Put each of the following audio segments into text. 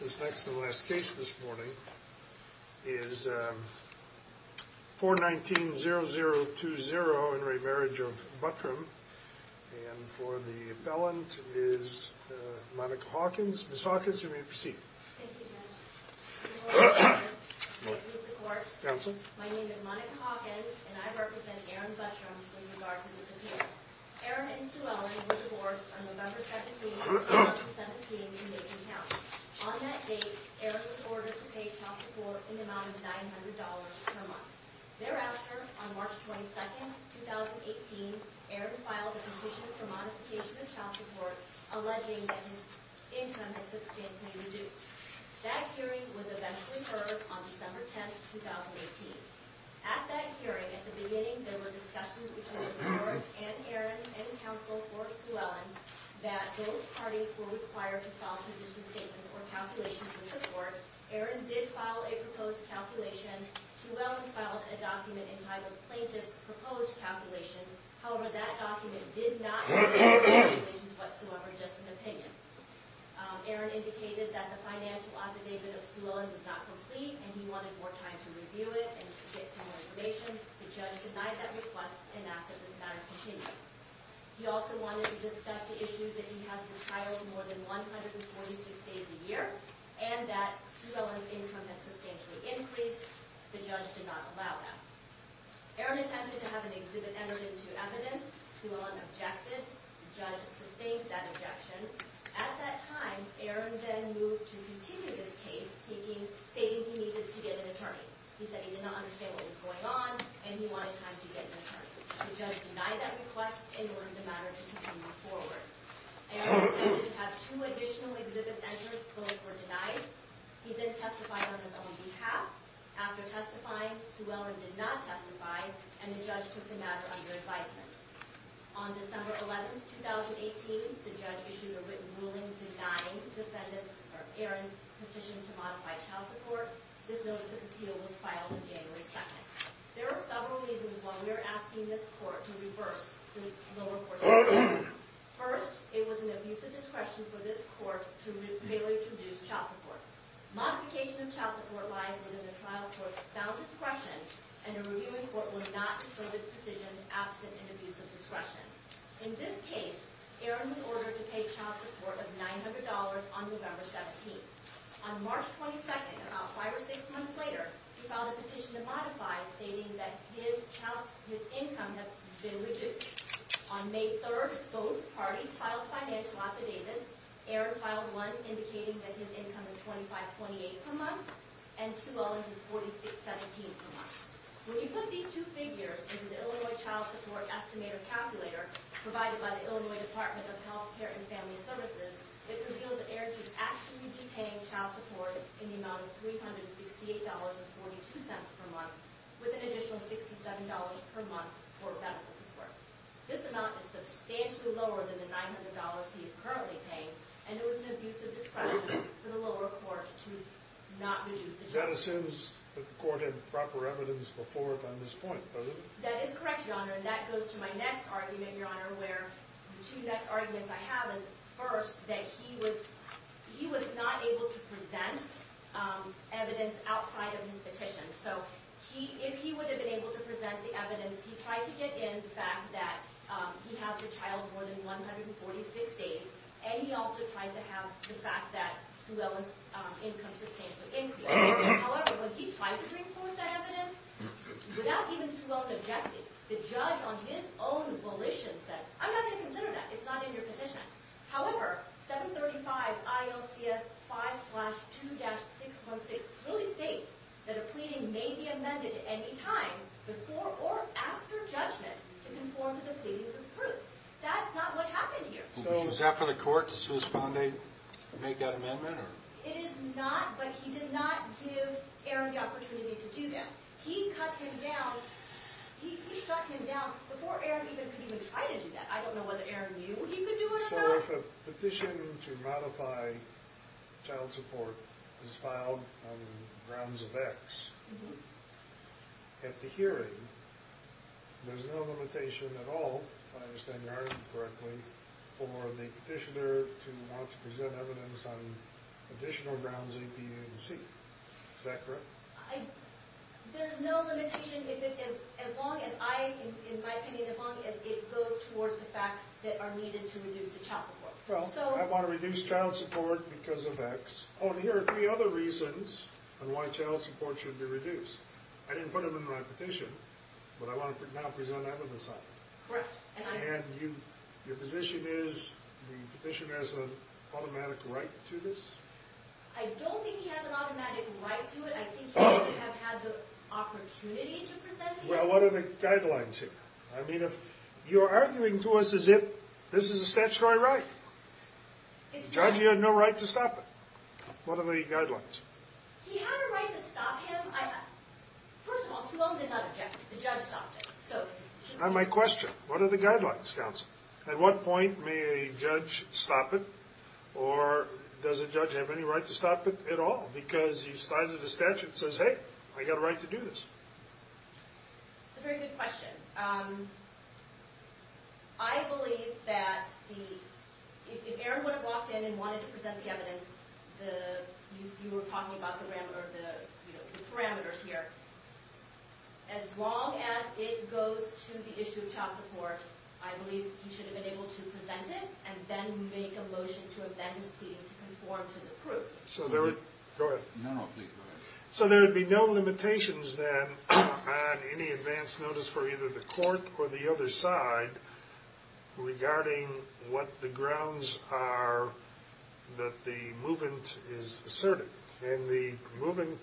This next and last case this morning is 419-0020 in re Marriage of Buttram and for the appellant is Monica Hawkins. Ms. Hawkins, you may proceed. Thank you, Judge. Before I introduce the court, my name is Monica Hawkins and I represent Aaron Buttram with regard to the appeal. Aaron and Suelli were divorced on November 17, 2017 in Mason County. On that date, Aaron was ordered to pay child support an amount of $900 per month. Thereafter, on March 22, 2018, Aaron filed a petition for modification of child support alleging that his income had substantially reduced. That hearing was eventually heard on December 10, 2018. At that hearing, at the beginning, there were discussions between the court and Aaron and counsel for Suelli that both parties were required to file position statements or calculations with the court. Aaron did file a proposed calculation. Suelli filed a document entitled Plaintiff's Proposed Calculations. However, that document did not include calculations whatsoever, just an opinion. Aaron indicated that the financial affidavit of Suelli was not complete and he wanted more time to review it and get some more information. The judge denied that request and asked that this matter continue. He also wanted to discuss the issue that he has been child for more than 146 days a year and that Suelli's income had substantially increased. The judge did not allow that. Aaron attempted to have an exhibit entered into evidence. Suelli objected. The judge sustained that objection. At that time, Aaron then moved to continue this case, stating he needed to get an attorney. He said he did not understand what was going on and he wanted time to get an attorney. The judge denied that request in order for the matter to continue forward. Aaron did have two additional exhibit entered. Both were denied. He then testified on his own behalf. After testifying, Suelli did not testify and the judge took the matter under advisement. On December 11, 2018, the judge issued a written ruling denying Aaron's petition to modify child support. This notice of appeal was filed on January 2nd. There are several reasons why we are asking this court to reverse the lower court's decision. First, it was an abuse of discretion for this court to fail to introduce child support. Modification of child support lies within the trial court's sound discretion, and the reviewing court will not disprove this decision absent an abuse of discretion. In this case, Aaron was ordered to pay child support of $900 on November 17. On March 22nd, about five or six months later, he filed a petition to modify, stating that his income has been reduced. On May 3rd, both parties filed financial affidavits. Aaron filed one indicating that his income is $25.28 per month, and Suelli's is $46.17 per month. When you put these two figures into the Illinois Child Support Estimator Calculator provided by the Illinois Department of Health Care and Family Services, it reveals that Aaron should actually be paying child support in the amount of $368.42 per month, with an additional $67 per month for benefit support. This amount is substantially lower than the $900 he is currently paying, and it was an abuse of discretion for the lower court to not reduce the child support. That assumes that the court had proper evidence before it on this point, does it? That is correct, Your Honor, and that goes to my next argument, Your Honor, where the two next arguments I have is, first, that he was not able to present evidence outside of his petition. So if he would have been able to present the evidence, he tried to get in the fact that he has a child born in 146 days, and he also tried to have the fact that Suelli's income sustained some increase. However, when he tried to bring forth that evidence, without even Suelli objecting, the judge, on his own volition, said, I'm not going to consider that. It's not in your petition. However, 735 ILCS 5-2-616 clearly states that a pleading may be amended at any time before or after judgment to conform to the pleadings of the proofs. That's not what happened here. So was that for the court to suspend it, make that amendment? It is not, but he did not give Aaron the opportunity to do that. He cut him down. He shut him down before Aaron could even try to do that. I don't know whether Aaron knew he could do it or not. So if a petition to modify child support is filed on the grounds of X, at the hearing, there's no limitation at all, if I understand your argument correctly, for the petitioner to want to present evidence on additional grounds A, B, and C. Is that correct? There's no limitation, in my opinion, as long as it goes towards the facts that are needed to reduce the child support. Well, I want to reduce child support because of X. Oh, and here are three other reasons on why child support should be reduced. I didn't put them in my petition, but I want to now present evidence on it. Correct. And your position is the petitioner has an automatic right to this? I don't think he has an automatic right to it. I think he would have had the opportunity to present it. Well, what are the guidelines here? I mean, you're arguing to us as if this is a statutory right. Exactly. The judge, he had no right to stop it. What are the guidelines? He had a right to stop him. First of all, Suwon did not object. The judge stopped him. It's not my question. What are the guidelines, counsel? At what point may a judge stop it, or does a judge have any right to stop it at all? Because you cited a statute that says, hey, I've got a right to do this. That's a very good question. I believe that if Aaron would have walked in and wanted to present the evidence, you were talking about the parameters here, as long as it goes to the issue of child support, I believe he should have been able to present it and then make a motion to amend his pleading to conform to the proof. So there would be no limitations then on any advance notice for either the court or the other side regarding what the grounds are that the movement is asserted. And the movement,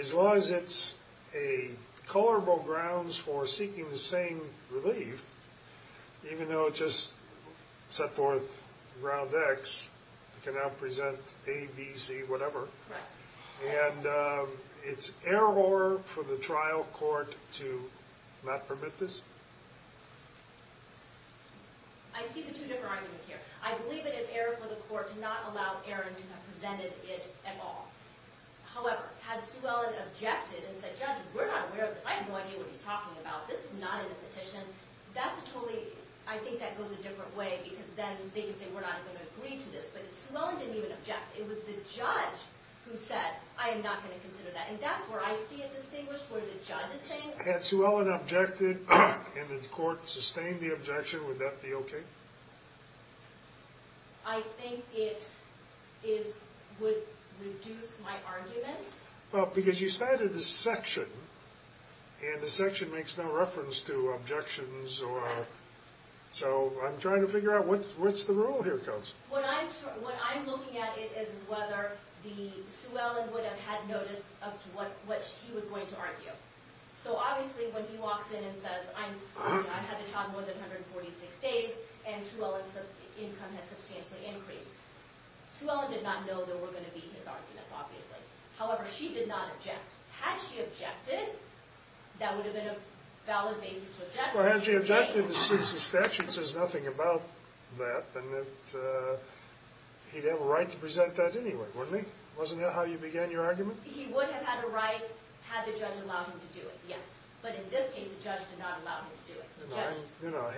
as long as it's a colorable grounds for seeking the same relief, even though it just set forth ground X, it can now present A, B, C, whatever. Right. And it's error for the trial court to not permit this? I see the two different arguments here. I believe it's an error for the court to not allow Aaron to have presented it at all. However, had Sue Ellen objected and said, judge, we're not aware of this, I have no idea what he's talking about, this is not in the petition, that's a totally, I think that goes a different way because then they could say we're not going to agree to this. But Sue Ellen didn't even object. It was the judge who said, I am not going to consider that. And that's where I see it distinguished, where the judge is saying. Had Sue Ellen objected and the court sustained the objection, would that be okay? I think it would reduce my argument. Well, because you started a section, and the section makes no reference to objections. So I'm trying to figure out what's the rule here, Counsel. What I'm looking at is whether Sue Ellen would have had notice of what she was going to argue. So obviously when he walks in and says, I had the child more than 146 days, and Sue Ellen's income has substantially increased. Sue Ellen did not know there were going to be his arguments, obviously. However, she did not object. Had she objected, that would have been a valid basis to object. Well, had she objected, since the statute says nothing about that, then he'd have a right to present that anyway, wouldn't he? Wasn't that how you began your argument? He would have had a right had the judge allowed him to do it, yes. But in this case, the judge did not allow him to do it. I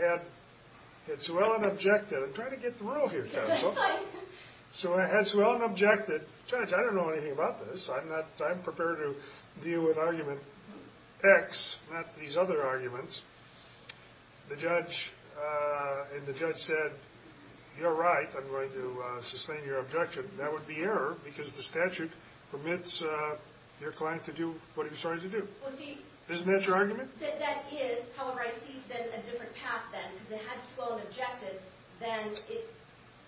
had Sue Ellen objected. I'm trying to get the rule here, Counsel. So I had Sue Ellen objected. Judge, I don't know anything about this. I'm prepared to deal with argument X, not these other arguments. And the judge said, you're right. I'm going to sustain your objection. That would be error, because the statute permits your client to do what he was trying to do. Isn't that your argument? That is. However, I see a different path then. Because if I had Sue Ellen objected, then it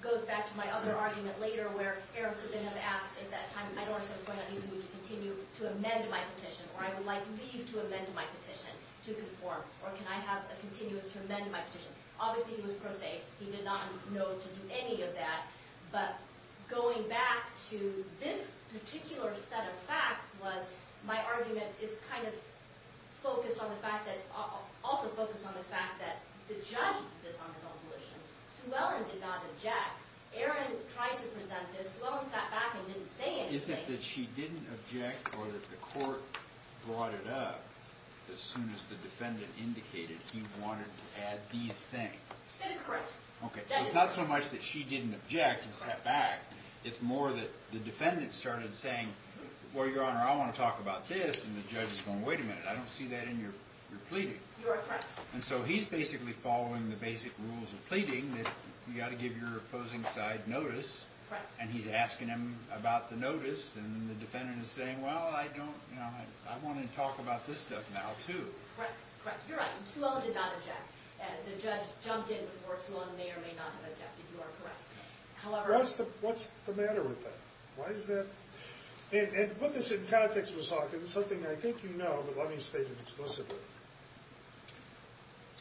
goes back to my other argument later, where Aaron could then have asked at that time, I don't understand why you don't need me to continue to amend my petition, or I would like leave to amend my petition to conform, or can I have a continuance to amend my petition? Obviously, he was pro se. He did not know to do any of that. But going back to this particular set of facts was, my argument is kind of also focused on the fact that the judge did this on his own volition. Sue Ellen did not object. Aaron tried to present this. Sue Ellen sat back and didn't say anything. Is it that she didn't object or that the court brought it up as soon as the defendant indicated he wanted to add these things? That is correct. Okay, so it's not so much that she didn't object and sat back. It's more that the defendant started saying, well, Your Honor, I want to talk about this, and the judge is going, wait a minute, I don't see that in your pleading. You're correct. And so he's basically following the basic rules of pleading, that you've got to give your opposing side notice, and he's asking him about the notice, and the defendant is saying, well, I want to talk about this stuff now, too. Correct, correct. You're right. Sue Ellen did not object. The judge jumped in before Sue Ellen may or may not have objected. You are correct. What's the matter with that? Why is that? And to put this in context, Miss Hawkins, something I think you know, but let me state it explicitly.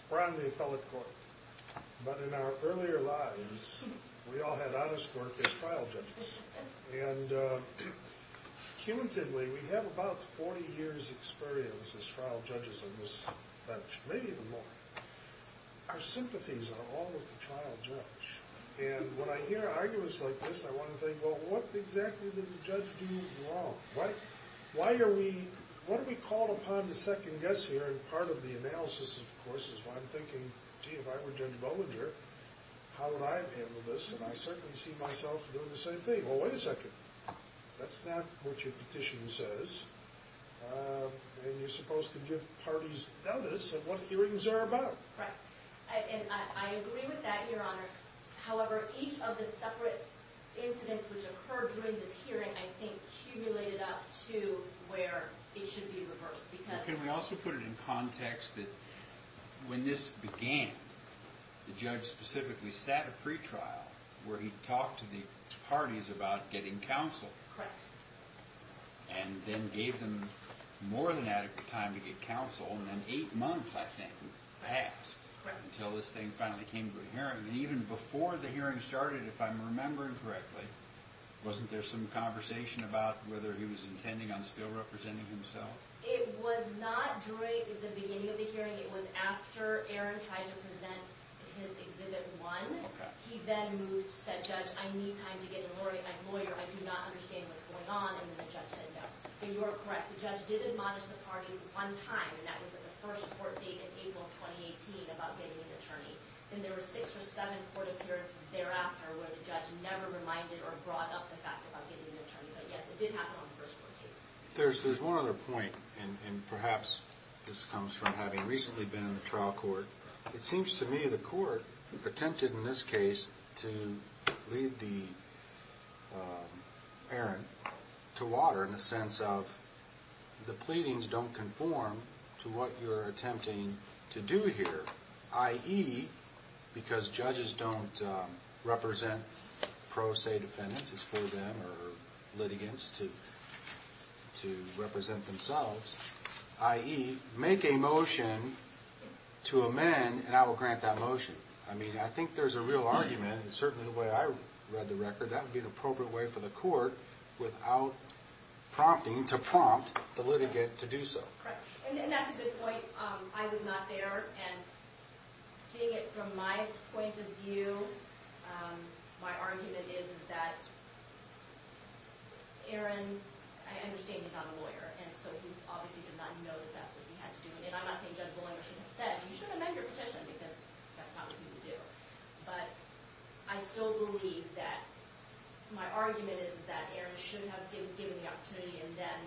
We're on the appellate court, but in our earlier lives, we all had honest work as trial judges. And cumulatively, we have about 40 years' experience as trial judges in this bench, maybe even more. Our sympathies are all with the trial judge. And when I hear arguments like this, I want to think, well, what exactly did the judge do wrong? Why are we called upon to second guess here? And part of the analysis, of course, is why I'm thinking, gee, if I were Judge Bollinger, how would I have handled this? And I certainly see myself doing the same thing. Well, wait a second. That's not what your petition says. And you're supposed to give parties notice of what hearings are about. Correct. And I agree with that, Your Honor. However, each of the separate incidents which occurred during this hearing, I think, cumulated up to where it should be reversed. Can we also put it in context that when this began, the judge specifically sat a pretrial where he talked to the parties about getting counsel. Correct. And then gave them more than adequate time to get counsel. And then eight months, I think, passed until this thing finally came to a hearing. And even before the hearing started, if I'm remembering correctly, wasn't there some conversation about whether he was intending on still representing himself? It was not during the beginning of the hearing. It was after Aaron tried to present his Exhibit 1. He then moved, said, Judge, I need time to get a lawyer. I do not understand what's going on. And then the judge said no. And you are correct. The judge did admonish the parties one time, and that was at the first court date in April of 2018 about getting an attorney. Then there were six or seven court appearances thereafter where the judge never reminded or brought up the fact about getting an attorney. But, yes, it did happen on the first court date. There's one other point, and perhaps this comes from having recently been in the trial court. It seems to me the court attempted in this case to lead Aaron to water in the sense of the pleadings don't conform to what you're attempting to do here, i.e., because judges don't represent pro se defendants, it's for them or litigants to represent themselves, i.e., make a motion to amend, and I will grant that motion. I mean, I think there's a real argument, and certainly the way I read the record, that would be an appropriate way for the court without prompting to prompt the litigant to do so. Correct. And that's a good point. I was not there, and seeing it from my point of view, my argument is that Aaron, I understand, is not a lawyer. And so he obviously did not know that that's what he had to do. And I'm not saying Judge Bolinger shouldn't have said, you should amend your petition, because that's not what you would do. But I still believe that my argument is that Aaron should have been given the opportunity and then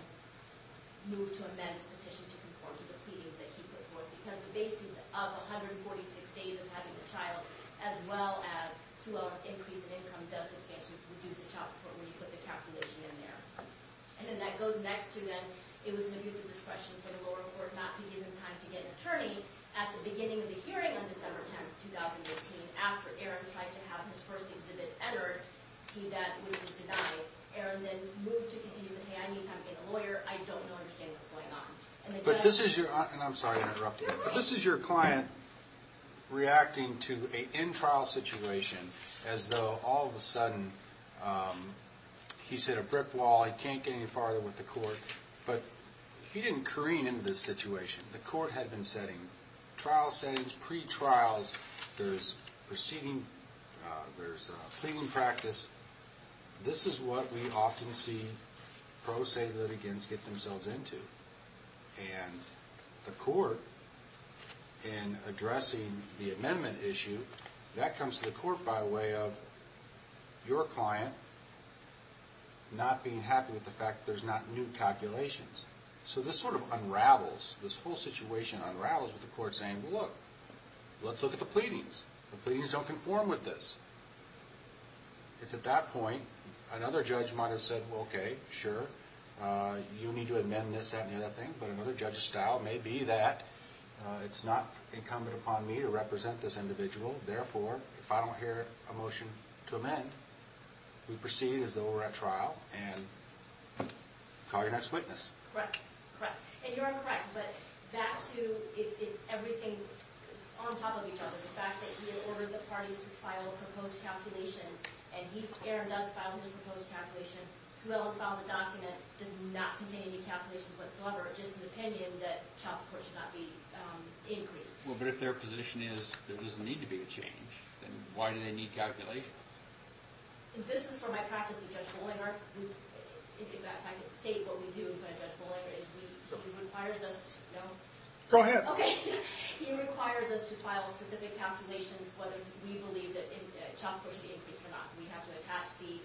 moved to amend his petition to conform to the pleadings that he put forth, because the basis of 146 days of having a child, as well as Sue Ellen's increase in income, does exist to reduce the child support when you put the calculation in there. And then that goes next to that it was an abuse of discretion for the lower court not to give him time to get an attorney at the beginning of the hearing on December 10th, 2018, after Aaron decided to have his first exhibit entered, that would be denied. Aaron then moved to continue saying, hey, I need time to get a lawyer. I don't understand what's going on. But this is your client reacting to an in-trial situation as though all of a sudden he's hit a brick wall, he can't get any farther with the court. But he didn't careen into this situation. The court had been setting trial settings, pre-trials. There's proceeding, there's pleading practice. This is what we often see pro se litigants get themselves into. And the court, in addressing the amendment issue, that comes to the court by way of your client not being happy with the fact that there's not new calculations. So this sort of unravels, this whole situation unravels with the court saying, well, look, let's look at the pleadings. The pleadings don't conform with this. It's at that point, another judge might have said, okay, sure, you need to amend this, that, and the other thing. But another judge's style may be that it's not incumbent upon me to represent this individual. Therefore, if I don't hear a motion to amend, we proceed as though we're at trial and call your next witness. Correct. And you're correct, but that too, it's everything on top of each other. The fact that he ordered the parties to file proposed calculations, and he, Aaron, does file his proposed calculation, Suella filed the document, does not contain any calculations whatsoever, just an opinion that child support should not be increased. Well, but if their position is there doesn't need to be a change, then why do they need calculations? This is from my practice with Judge Bollinger. If I could state what we do in front of Judge Bollinger is he requires us to know. Go ahead. Okay. He requires us to file specific calculations, whether we believe that child support should be increased or not. We have to attach the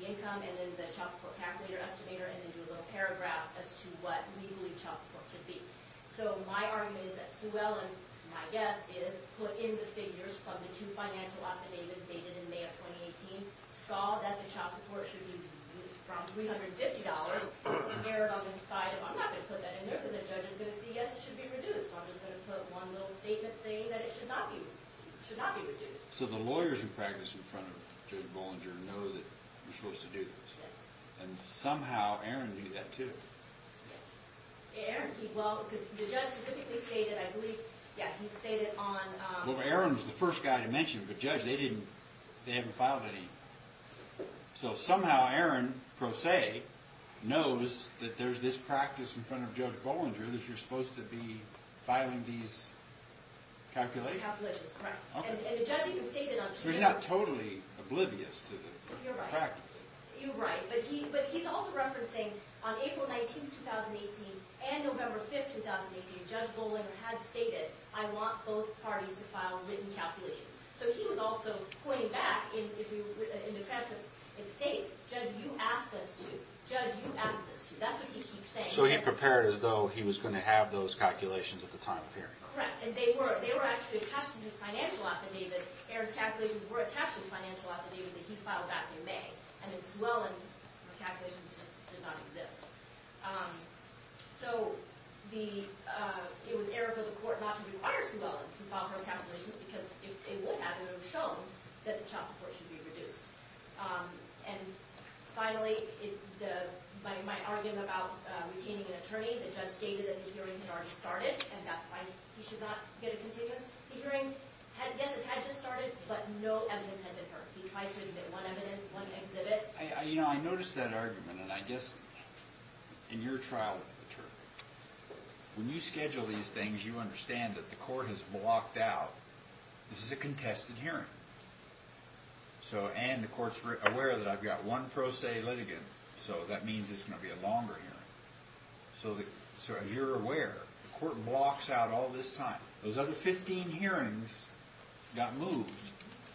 income and then the child support calculator estimator and then do a little paragraph as to what we believe child support should be. So my argument is that Suella, my guess is, put in the figures from the two financial affidavits dated in May of 2018, saw that the child support should be reduced from $350 to merit on the side of, I'm not going to put that in there because the judge is going to say, yes, it should be reduced. So I'm just going to put one little statement saying that it should not be reduced. So the lawyers who practice in front of Judge Bollinger know that you're supposed to do this. Yes. And somehow Aaron did that too. Yes. Aaron did well because the judge specifically stated, I believe, yeah, he stated on- Well, Aaron was the first guy to mention, but Judge, they didn't, they haven't filed any. So somehow Aaron, pro se, knows that there's this practice in front of Judge Bollinger that you're supposed to be filing these calculations. Calculations, correct. Okay. And the judge even stated on- So he's not totally oblivious to the practice. You're right. But he's also referencing on April 19th, 2018 and November 5th, 2018, Judge Bollinger had stated, I want both parties to file written calculations. So he was also pointing back in the transcripts and states, Judge, you asked us to. Judge, you asked us to. That's what he keeps saying. So he prepared as though he was going to have those calculations at the time of hearing. Correct. And they were actually attached to his financial affidavit. Aaron's calculations were attached to the financial affidavit that he filed back in May. And then Swellen's calculations just did not exist. So it was Aaron for the court not to require Swellen to file her calculations because if it would have, it would have shown that the child support should be reduced. And finally, my argument about retaining an attorney, the judge stated that the hearing had already started and that's why he should not get a continuous hearing. Yes, it had just started, but no evidence had been heard. He tried to admit one evidence, one exhibit. I noticed that argument, and I guess in your trial with the attorney, when you schedule these things, you understand that the court has blocked out. This is a contested hearing. And the court's aware that I've got one pro se litigant, so that means it's going to be a longer hearing. So as you're aware, the court blocks out all this time. Those other 15 hearings got moved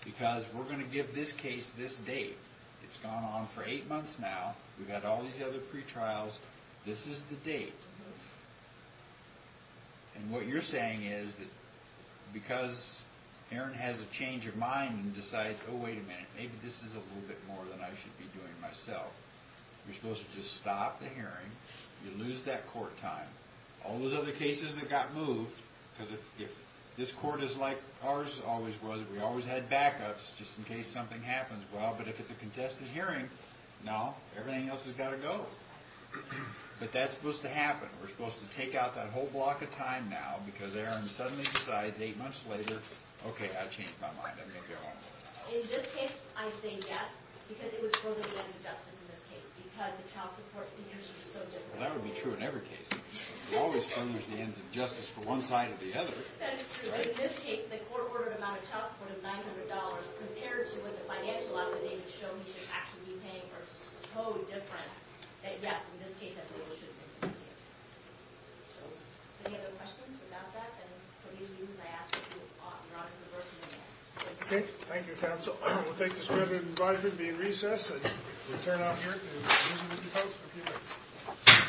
because we're going to give this case this date. It's gone on for eight months now. We've got all these other pretrials. This is the date. And what you're saying is that because Aaron has a change of mind and decides, oh, wait a minute, maybe this is a little bit more than I should be doing myself. You're supposed to just stop the hearing. You lose that court time. All those other cases that got moved because if this court is like ours always was, we always had backups just in case something happens. Well, but if it's a contested hearing, no, everything else has got to go. But that's supposed to happen. We're supposed to take out that whole block of time now because Aaron suddenly decides eight months later, okay, I've changed my mind. I'm going to go on. In this case, I say yes because it was totally against the justice in this case because the child support figures were so different. Well, that would be true in every case. You always finish the ends of justice for one side or the other. That is true. In this case, the court ordered an amount of child support of $900 compared to what the financial affidavit showed he should actually be paying were so different that, yes, in this case, that's what it should have been. So any other questions about that? And for these reasons, I ask that you draw to the bursary. Okay. Thank you, counsel. We'll take this meeting and be in recess. We'll turn out here to visit with the folks in a few minutes.